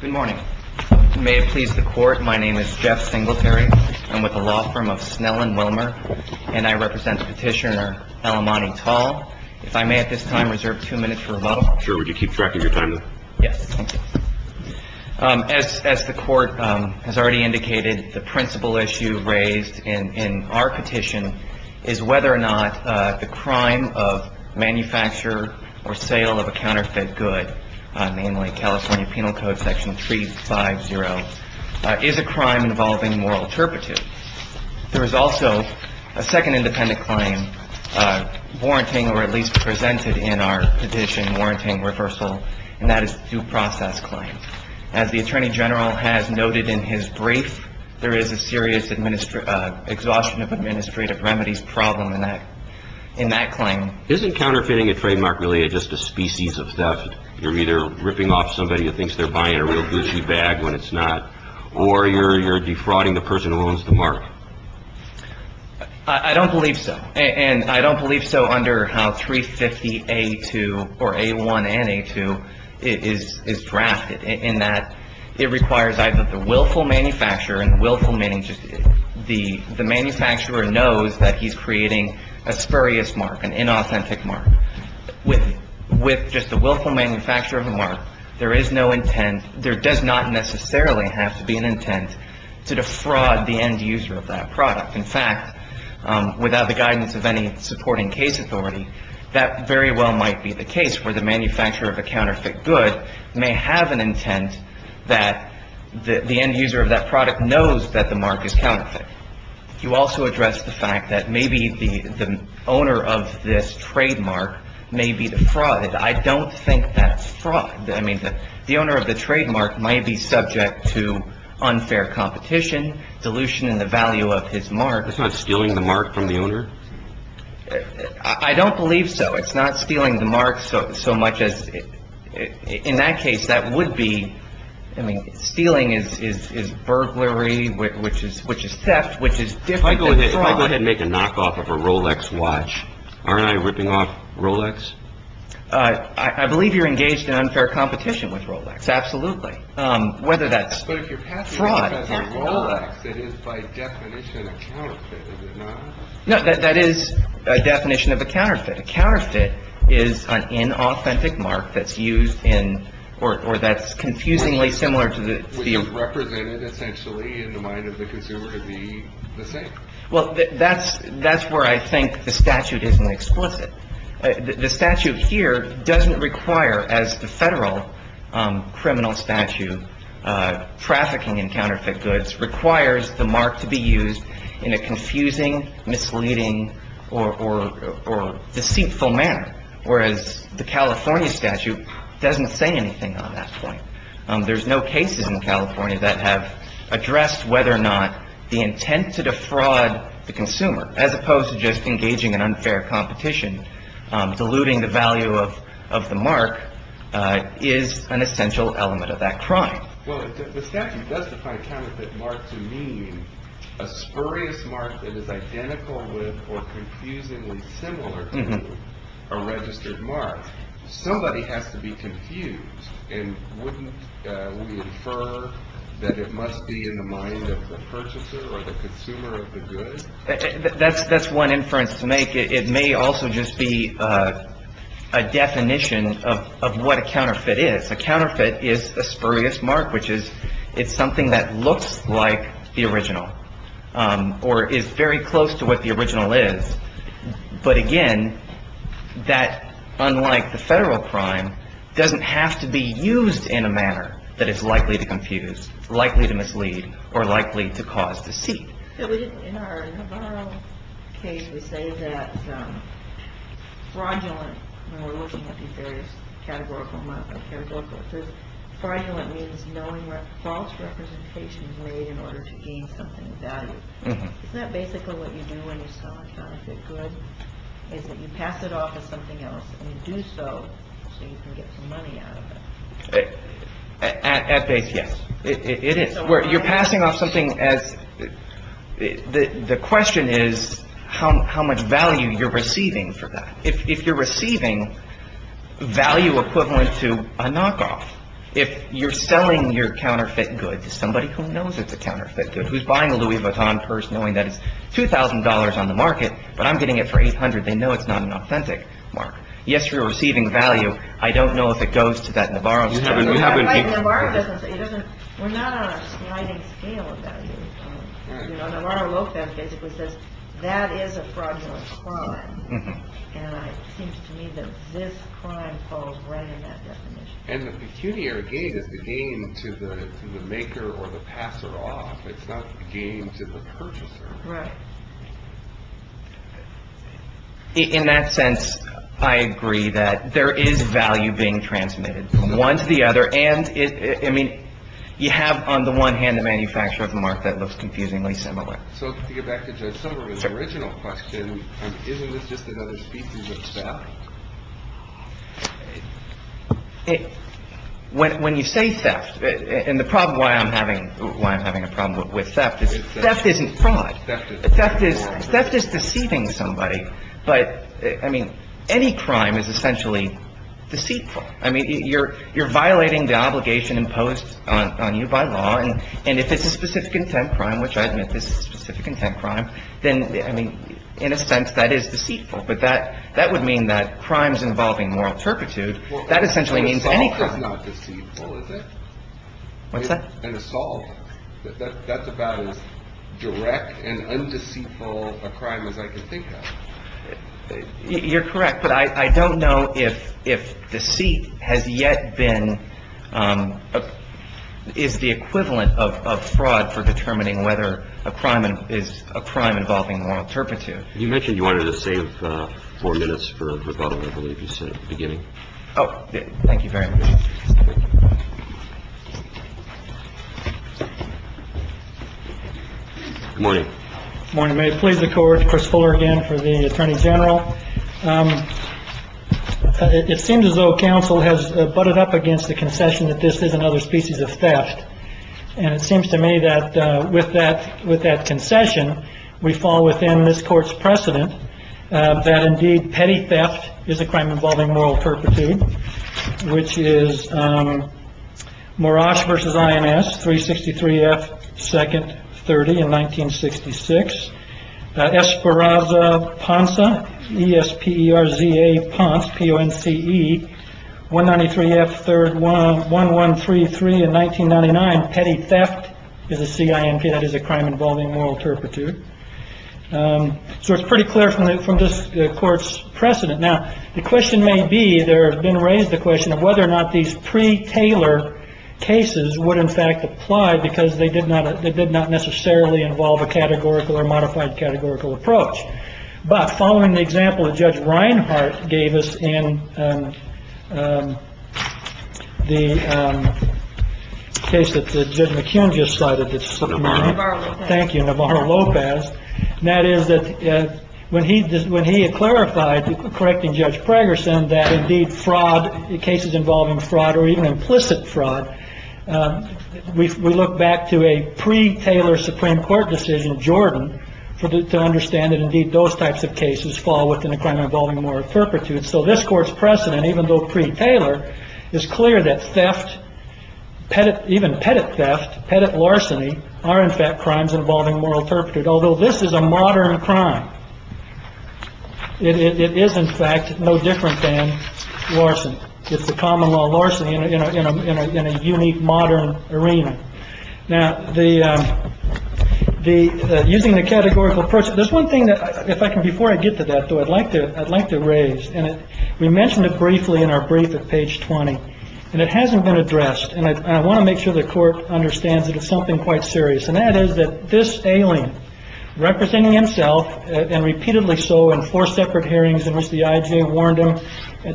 Good morning. May it please the Court, my name is Jeff Singletary. I'm with the law firm of Snell and Wilmer, and I represent Petitioner Al-Amani Tal. If I may at this time reserve two minutes for rebuttal. Sure, would you keep track of your time, then? Yes. As the Court has already indicated, the principal issue raised in our petition is whether or not the crime of manufacture or sale of a counterfeit good, namely California Penal Code Section 350, is a crime involving moral turpitude. There is also a second independent claim warranting, or at least presented in our petition, warranting reversal, and that is the due process claim. As the Attorney General has noted in his brief, there is a serious exhaustion of administrative remedies problem in that claim. Isn't counterfeiting a trademark really just a species of theft? You're either ripping off somebody who thinks they're buying a real Gucci bag when it's not, or you're defrauding the person who owns the mark. I don't believe so. And I don't believe so under how 350A2, or A1 and A2, is drafted, in that it requires either the willful manufacturer and willful meaning just the manufacturer knows that he's creating a spurious mark, an inauthentic mark. With just the willful manufacturer of the mark, there is no intent, there does not necessarily have to be an intent to defraud the end user of that product. In fact, without the guidance of any supporting case authority, that very well might be the case where the manufacturer of a counterfeit good may have an intent that the end user of that product knows that the mark is counterfeit. You also address the fact that maybe the owner of this trademark may be defrauded. I don't think that's fraud. I mean, the owner of the trademark may be subject to unfair competition, dilution in the value of his mark. That's not stealing the mark from the owner? I don't believe so. It's not stealing the mark so much as, in that case, that would be, I mean, stealing is burglary, which is theft, which is different than fraud. If I go ahead and make a knockoff of a Rolex watch, aren't I ripping off Rolex? I believe you're engaged in unfair competition with Rolex, absolutely. Whether that's fraud or not. But if you're passing it as a Rolex, it is by definition a counterfeit, is it not? No, that is a definition of a counterfeit. A counterfeit is an inauthentic mark that's used in, or that's confusingly similar to the... Which is represented, essentially, in the mind of the consumer to be the same. Well, that's where I think the statute isn't explicit. The statute here doesn't require, as the federal criminal statute, trafficking in counterfeit goods requires the mark to be used in a confusing, misleading, or deceitful manner. Whereas the California statute doesn't say anything on that point. There's no cases in California that have addressed whether or not the intent to defraud the consumer, as opposed to just engaging in unfair competition, diluting the value of the mark, is an essential element of that crime. Well, the statute does define a counterfeit mark to mean a spurious mark that is identical with or confusingly similar to a registered mark. Somebody has to be confused, and wouldn't we infer that it must be in the mind of the purchaser or the consumer of the good? That's one inference to make. It may also just be a definition of what a counterfeit is. A counterfeit is a spurious mark, which is, it's something that looks like the original or is very close to what the original is. But again, that, unlike the federal crime, doesn't have to be used in a manner that is likely to confuse, likely to mislead, or likely to cause deceit. In our case, we say that fraudulent, when we're looking at these various categorical marks, fraudulent means knowing what false representation is made in order to gain something of value. Isn't that basically what you do when you sell a counterfeit good, is that you pass it off as something else and you do so so you can get some money out of it? At base, yes. It is. You're passing off something as – the question is how much value you're receiving for that. If you're receiving value equivalent to a knockoff, if you're selling your counterfeit good to somebody who knows it's a counterfeit good, who's buying a Louis Vuitton purse knowing that it's $2,000 on the market, but I'm getting it for $800, they know it's not an authentic mark. Yes, you're receiving value. I don't know if it goes to that Navarro store. In the Navarro business, we're not on a sliding scale of value. Navarro Lopez basically says that is a fraudulent crime. And it seems to me that this crime falls right in that definition. And the peculiar gain is the gain to the maker or the passer-off. It's not the gain to the purchaser. Right. In that sense, I agree that there is value being transmitted. One to the other. And, I mean, you have on the one hand the manufacturer of the mark that looks confusingly similar. So to get back to Judge Somerville's original question, isn't this just another species of theft? When you say theft – and the problem why I'm having a problem with theft is theft isn't fraud. Theft is deceiving somebody. But, I mean, any crime is essentially deceitful. I mean, you're violating the obligation imposed on you by law. And if it's a specific intent crime, which I admit this is a specific intent crime, then, I mean, in a sense that is deceitful. But that would mean that crimes involving moral turpitude, that essentially means any crime. Assault is not deceitful, is it? What's that? An assault. That's about as direct and undeceitful a crime as I can think of. You're correct. But I don't know if deceit has yet been – is the equivalent of fraud for determining whether a crime is a crime involving moral turpitude. You mentioned you wanted to save four minutes for the bottom of what you said at the beginning. Oh, thank you very much. Good morning. Good morning. May it please the Court. Chris Fuller again for the Attorney General. It seems as though counsel has butted up against the concession that this is another species of theft. And it seems to me that with that concession, we fall within this Court's precedent that, indeed, Petty theft is a crime involving moral turpitude, which is Morosh versus INS, 363 F. Second, 30 in 1966. Esperanza Ponza, E-S-P-E-R-Z-A Ponce, P-O-N-C-E, 193 F. Third, 1133 in 1999. Petty theft is a C-I-N-P, that is a crime involving moral turpitude. So it's pretty clear from this Court's precedent. Now, the question may be, there have been raised the question of whether or not these pre-Taylor cases would, in fact, apply because they did not necessarily involve a categorical or modified categorical approach. But following the example that Judge Reinhart gave us in the case that Judge McCune just cited, Thank you, Navarro-Lopez. And that is that when he had clarified, correcting Judge Pragerson, that indeed fraud, cases involving fraud or even implicit fraud, we look back to a pre-Taylor Supreme Court decision, Jordan, to understand that, indeed, those types of cases fall within a crime involving moral turpitude. So this Court's precedent, even though pre-Taylor, is clear that theft, even pettit theft, pettit larceny, are, in fact, crimes involving moral turpitude, although this is a modern crime. It is, in fact, no different than larceny. It's the common law of larceny in a unique, modern arena. Now, using the categorical approach, there's one thing that, if I can, before I get to that, though, I'd like to raise, and we mentioned it briefly in our brief at page 20, and it hasn't been addressed. And I want to make sure the Court understands that it's something quite serious. And that is that this alien, representing himself, and repeatedly so in four separate hearings in which the I.J. warned him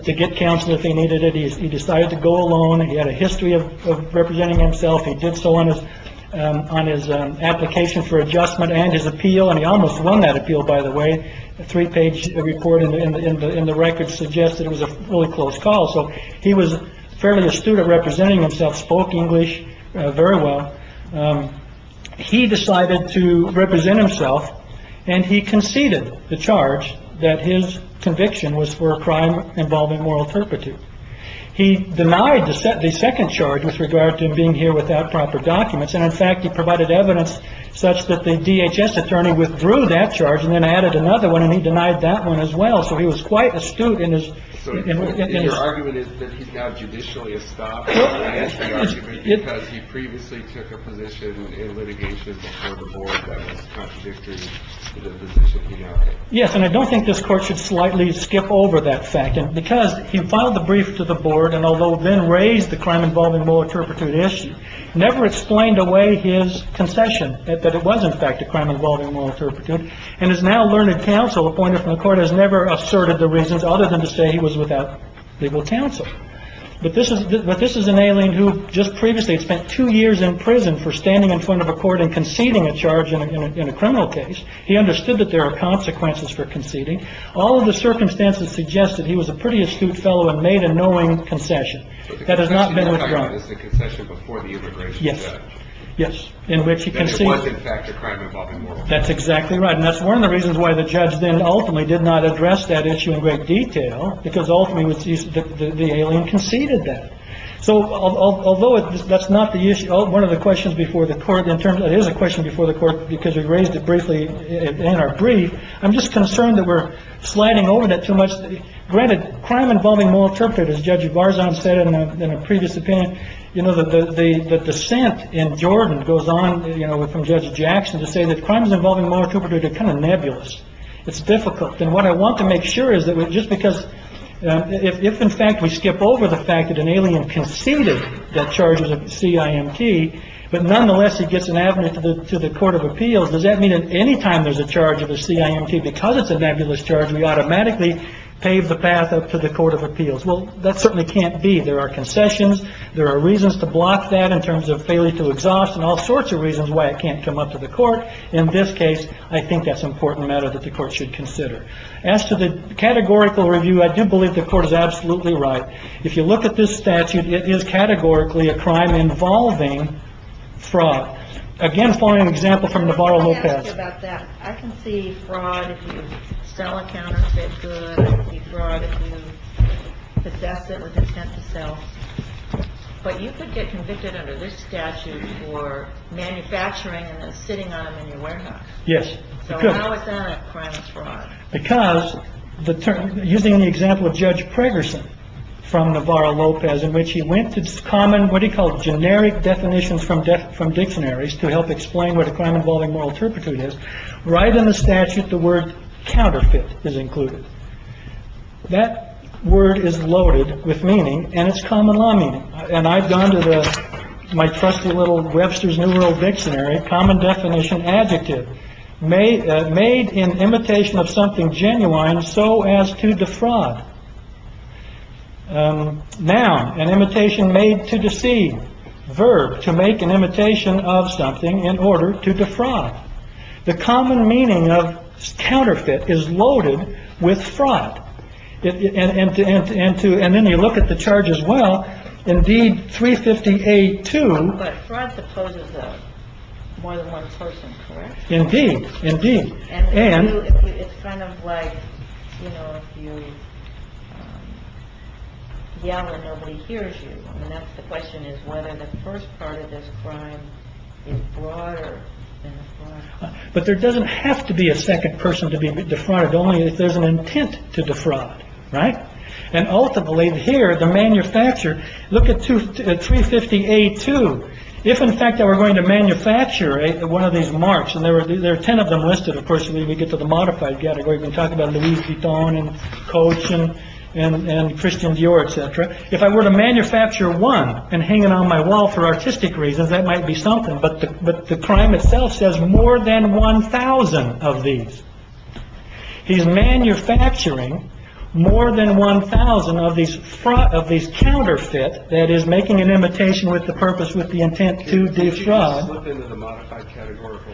to get counsel if he needed it, he decided to go alone. He had a history of representing himself. He did so on his application for adjustment and his appeal. And he almost won that appeal, by the way. A three page report in the record suggested it was a really close call. So he was fairly astute of representing himself, spoke English very well. He decided to represent himself and he conceded the charge that his conviction was for a crime involving moral turpitude. He denied the second charge with regard to being here without proper documents. And in fact, he provided evidence such that the DHS attorney withdrew that charge and then added another one. And he denied that one as well. So he was quite astute. And his argument is that he's now judicially estopped because he previously took a position in litigation. Yes. And I don't think this court should slightly skip over that fact because he filed the brief to the board. And although then raised the crime involving moral turpitude issue, never explained away his concession that it was, in fact, a crime involving moral turpitude. And his now learned counsel appointed from the court has never asserted the reasons other than to say he was without legal counsel. But this is but this is an alien who just previously spent two years in prison for standing in front of a court and conceding a charge in a criminal case. He understood that there are consequences for conceding. All of the circumstances suggest that he was a pretty astute fellow and made a knowing concession. That has not been a concession before. Yes. Yes. In which you can see that's exactly right. And that's one of the reasons why the judge then ultimately did not address that issue in great detail, because ultimately the alien conceded that. So although that's not the issue of one of the questions before the court in terms of his question before the court, because he raised it briefly in our brief, I'm just concerned that we're sliding over that too much. Granted, crime involving moral turpitude, as Judge Barzon said in a previous opinion, you know, that the dissent in Jordan goes on from Judge Jackson to say that crime is involving moral turpitude. They're kind of nebulous. It's difficult. And what I want to make sure is that just because if, in fact, we skip over the fact that an alien conceded that charges of CIMT, but nonetheless, it gets an avenue to the court of appeals. Does that mean that any time there's a charge of a CIMT because it's a nebulous charge, we automatically pave the path up to the court of appeals? Well, that certainly can't be. There are concessions. There are reasons to block that in terms of failure to exhaust and all sorts of reasons why it can't come up to the court. In this case, I think that's an important matter that the court should consider. As to the categorical review, I do believe the court is absolutely right. If you look at this statute, it is categorically a crime involving fraud. Again, following an example from Navarro Lopez. I can see fraud if you sell a counterfeit good. I can see fraud if you possess it with intent to sell. But you could get convicted under this statute for manufacturing and then sitting on it in your warehouse. Yes, you could. So how is that a crime of fraud? Because using the example of Judge Pregerson from Navarro Lopez in which he went to common, what he called generic definitions from death from dictionaries to help explain what a crime involving moral turpitude is. Right in the statute, the word counterfeit is included. That word is loaded with meaning and it's common law meaning. And I've gone to my trusty little Webster's New World Dictionary. Common definition. Adjective made made in imitation of something genuine. So as to defraud. Now, an imitation made to deceive verb to make an imitation of something in order to defraud. The common meaning of counterfeit is loaded with fraud. And to and to and to. And then you look at the charge as well. Indeed. Three fifty eight to more than one person. Indeed. Indeed. And it's kind of like, you know, if you yell and nobody hears you. And that's the question is whether the first part of this crime is broader. But there doesn't have to be a second person to be defrauded. Only if there's an intent to defraud. Right. And also believe here the manufacturer. Look at two three fifty eight two. If in fact they were going to manufacture one of these marks and there are ten of them listed. Of course, we get to the modified category. We're talking about Louis Vuitton and coach and Christian Dior, et cetera. If I were to manufacture one and hanging on my wall for artistic reasons, that might be something. But but the crime itself says more than one thousand of these. He's manufacturing more than one thousand of these fraud of these counterfeit. That is making an imitation with the purpose, with the intent to defraud.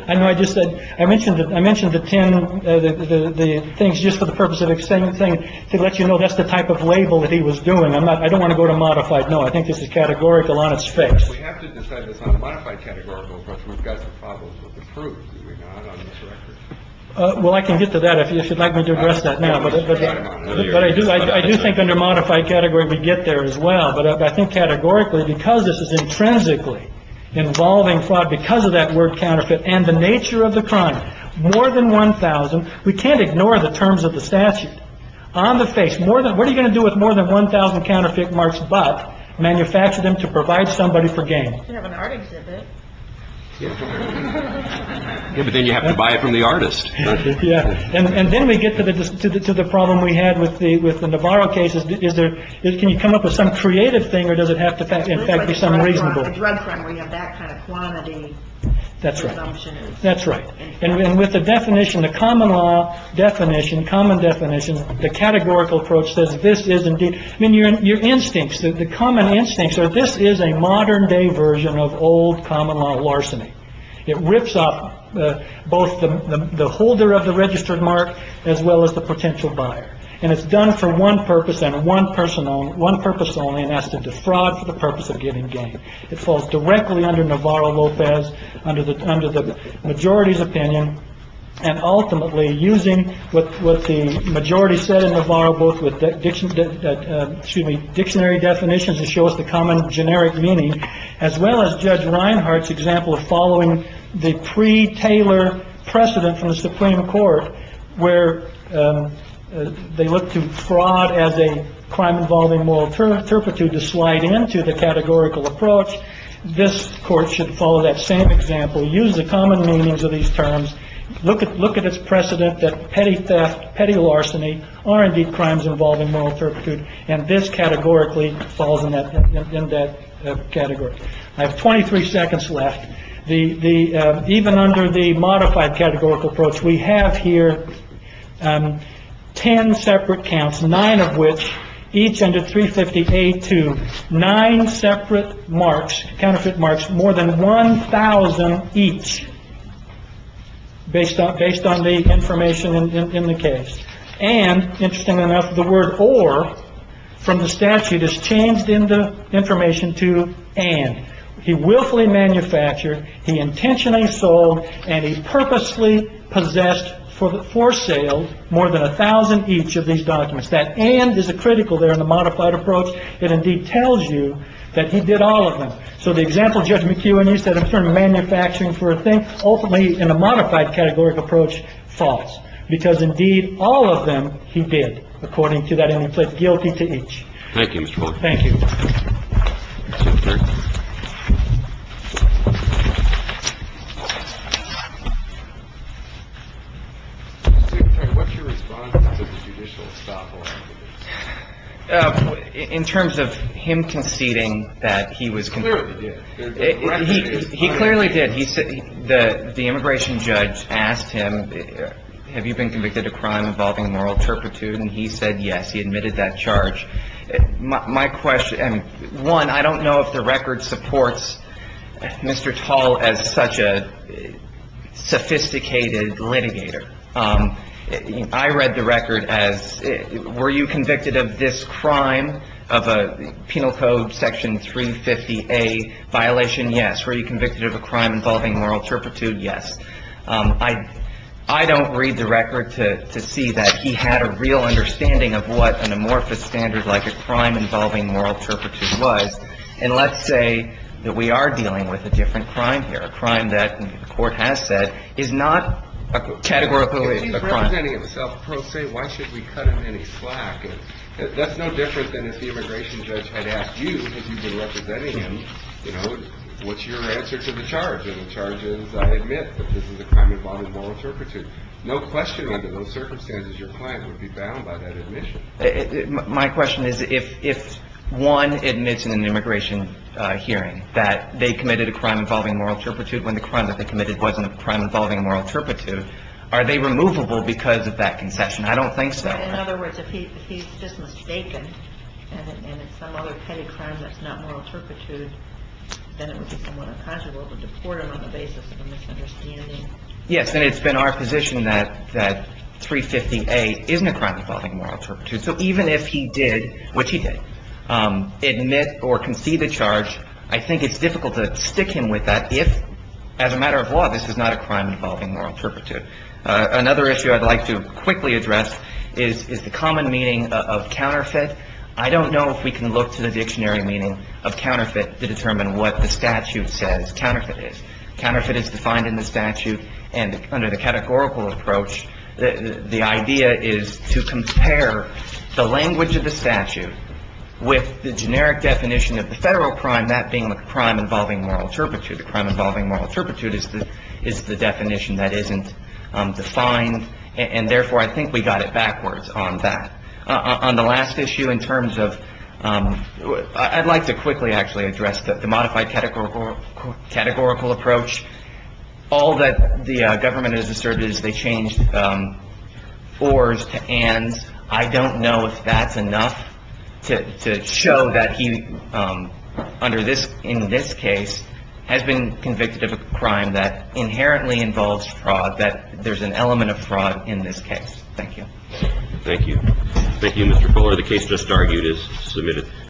I know I just said I mentioned that I mentioned the ten the things just for the purpose of saying the thing to let you know. That's the type of label that he was doing. I'm not I don't want to go to modified. No, I think this is categorical on its face. Well, I can get to that. If you'd like me to address that now. But I do. I do think under modified category, we get there as well. But I think categorically, because this is intrinsically involving fraud because of that word counterfeit and the nature of the crime. More than one thousand. We can't ignore the terms of the statute on the face. More than what are you going to do with more than one thousand counterfeit marks, but manufacture them to provide somebody for game art exhibit. But then you have to buy it from the artist. Yeah. And then we get to the to the to the problem we had with the with the Navarro cases. Is there. Can you come up with some creative thing or does it have to be some reason to run from that kind of quantity? That's right. That's right. And with the definition, the common law definition, common definition, the categorical approach says this is indeed your instincts. The common instincts are this is a modern day version of old common law larceny. It rips off both the holder of the registered mark as well as the potential buyer. And it's done for one purpose and one person on one purpose only and has to defraud for the purpose of getting game. It falls directly under Navarro Lopez, under the under the majority's opinion. And ultimately using what the majority said in Navarro, both with the dictionary definitions to show us the common generic meaning, as well as Judge Reinhardt's example of following the pre Taylor precedent from the Supreme Court, where they look to fraud as a crime involving moral turpitude to slide into the categorical approach. This court should follow that same example, use the common meanings of these terms. Look at look at its precedent that petty theft, petty larceny are indeed crimes involving moral turpitude. And this categorically falls in that category. I have twenty three seconds left. The the even under the modified categorical approach we have here. Ten separate counts, nine of which each under 350 to nine separate marks, counterfeit marks, more than one thousand each based on based on the information in the case. And interesting enough, the word or from the statute is changed in the information to. And he willfully manufactured, he intentionally sold and he purposely possessed for the for sale more than a thousand each of these documents. That end is a critical there in the modified approach. It indeed tells you that he did all of them. So the example, Judge McEwen, you said, in turn, manufacturing for a thing, ultimately in a modified categorical approach, false because indeed all of them he did according to that and he pled guilty to each. Thank you, Mr. Thank you. In terms of him conceding that he was clear, he clearly did. He said that the immigration judge asked him, have you been convicted of crime involving moral turpitude? He said yes. He admitted that charge. My question, one, I don't know if the record supports Mr. Tall as such a sophisticated litigator. I read the record as were you convicted of this crime of a penal code section 350 a violation? Yes. Were you convicted of a crime involving moral turpitude? Yes. I, I don't read the record to see that. He had a real understanding of what an amorphous standard like a crime involving moral turpitude was. And let's say that we are dealing with a different crime here, a crime that the court has said is not categorical. It is a crime that is self-proclaimed. Why should we cut him any slack? And that's no different than if the immigration judge had asked you if you've been representing him, you know, what's your answer to the charge of the charges? I admit that this is a crime involving moral turpitude. No question under those circumstances, your client would be bound by that admission. My question is, if one admits in an immigration hearing that they committed a crime involving moral turpitude when the crime that they committed wasn't a crime involving moral turpitude, are they removable because of that concession? I don't think so. In other words, if he's just mistaken and it's some other petty crime that's not moral turpitude, then it would be somewhat unconscionable to deport him on the basis of a misunderstanding. Yes, and it's been our position that 350A isn't a crime involving moral turpitude. So even if he did, which he did, admit or concede a charge, I think it's difficult to stick him with that if, as a matter of law, this is not a crime involving moral turpitude. Another issue I'd like to quickly address is the common meaning of counterfeit. I don't know if we can look to the dictionary meaning of counterfeit to determine what the statute says counterfeit is. Counterfeit is defined in the statute, and under the categorical approach, the idea is to compare the language of the statute with the generic definition of the federal crime, that being the crime involving moral turpitude. The crime involving moral turpitude is the definition that isn't defined, and therefore, I think we got it backwards on that. On the last issue in terms of, I'd like to quickly actually address the modified categorical approach. All that the government has asserted is they changed ors to ands. I don't know if that's enough to show that he, in this case, has been convicted of a crime that inherently involves fraud, that there's an element of fraud in this case. Thank you. Thank you. Thank you, Mr. Poehler. The case just argued is submitted.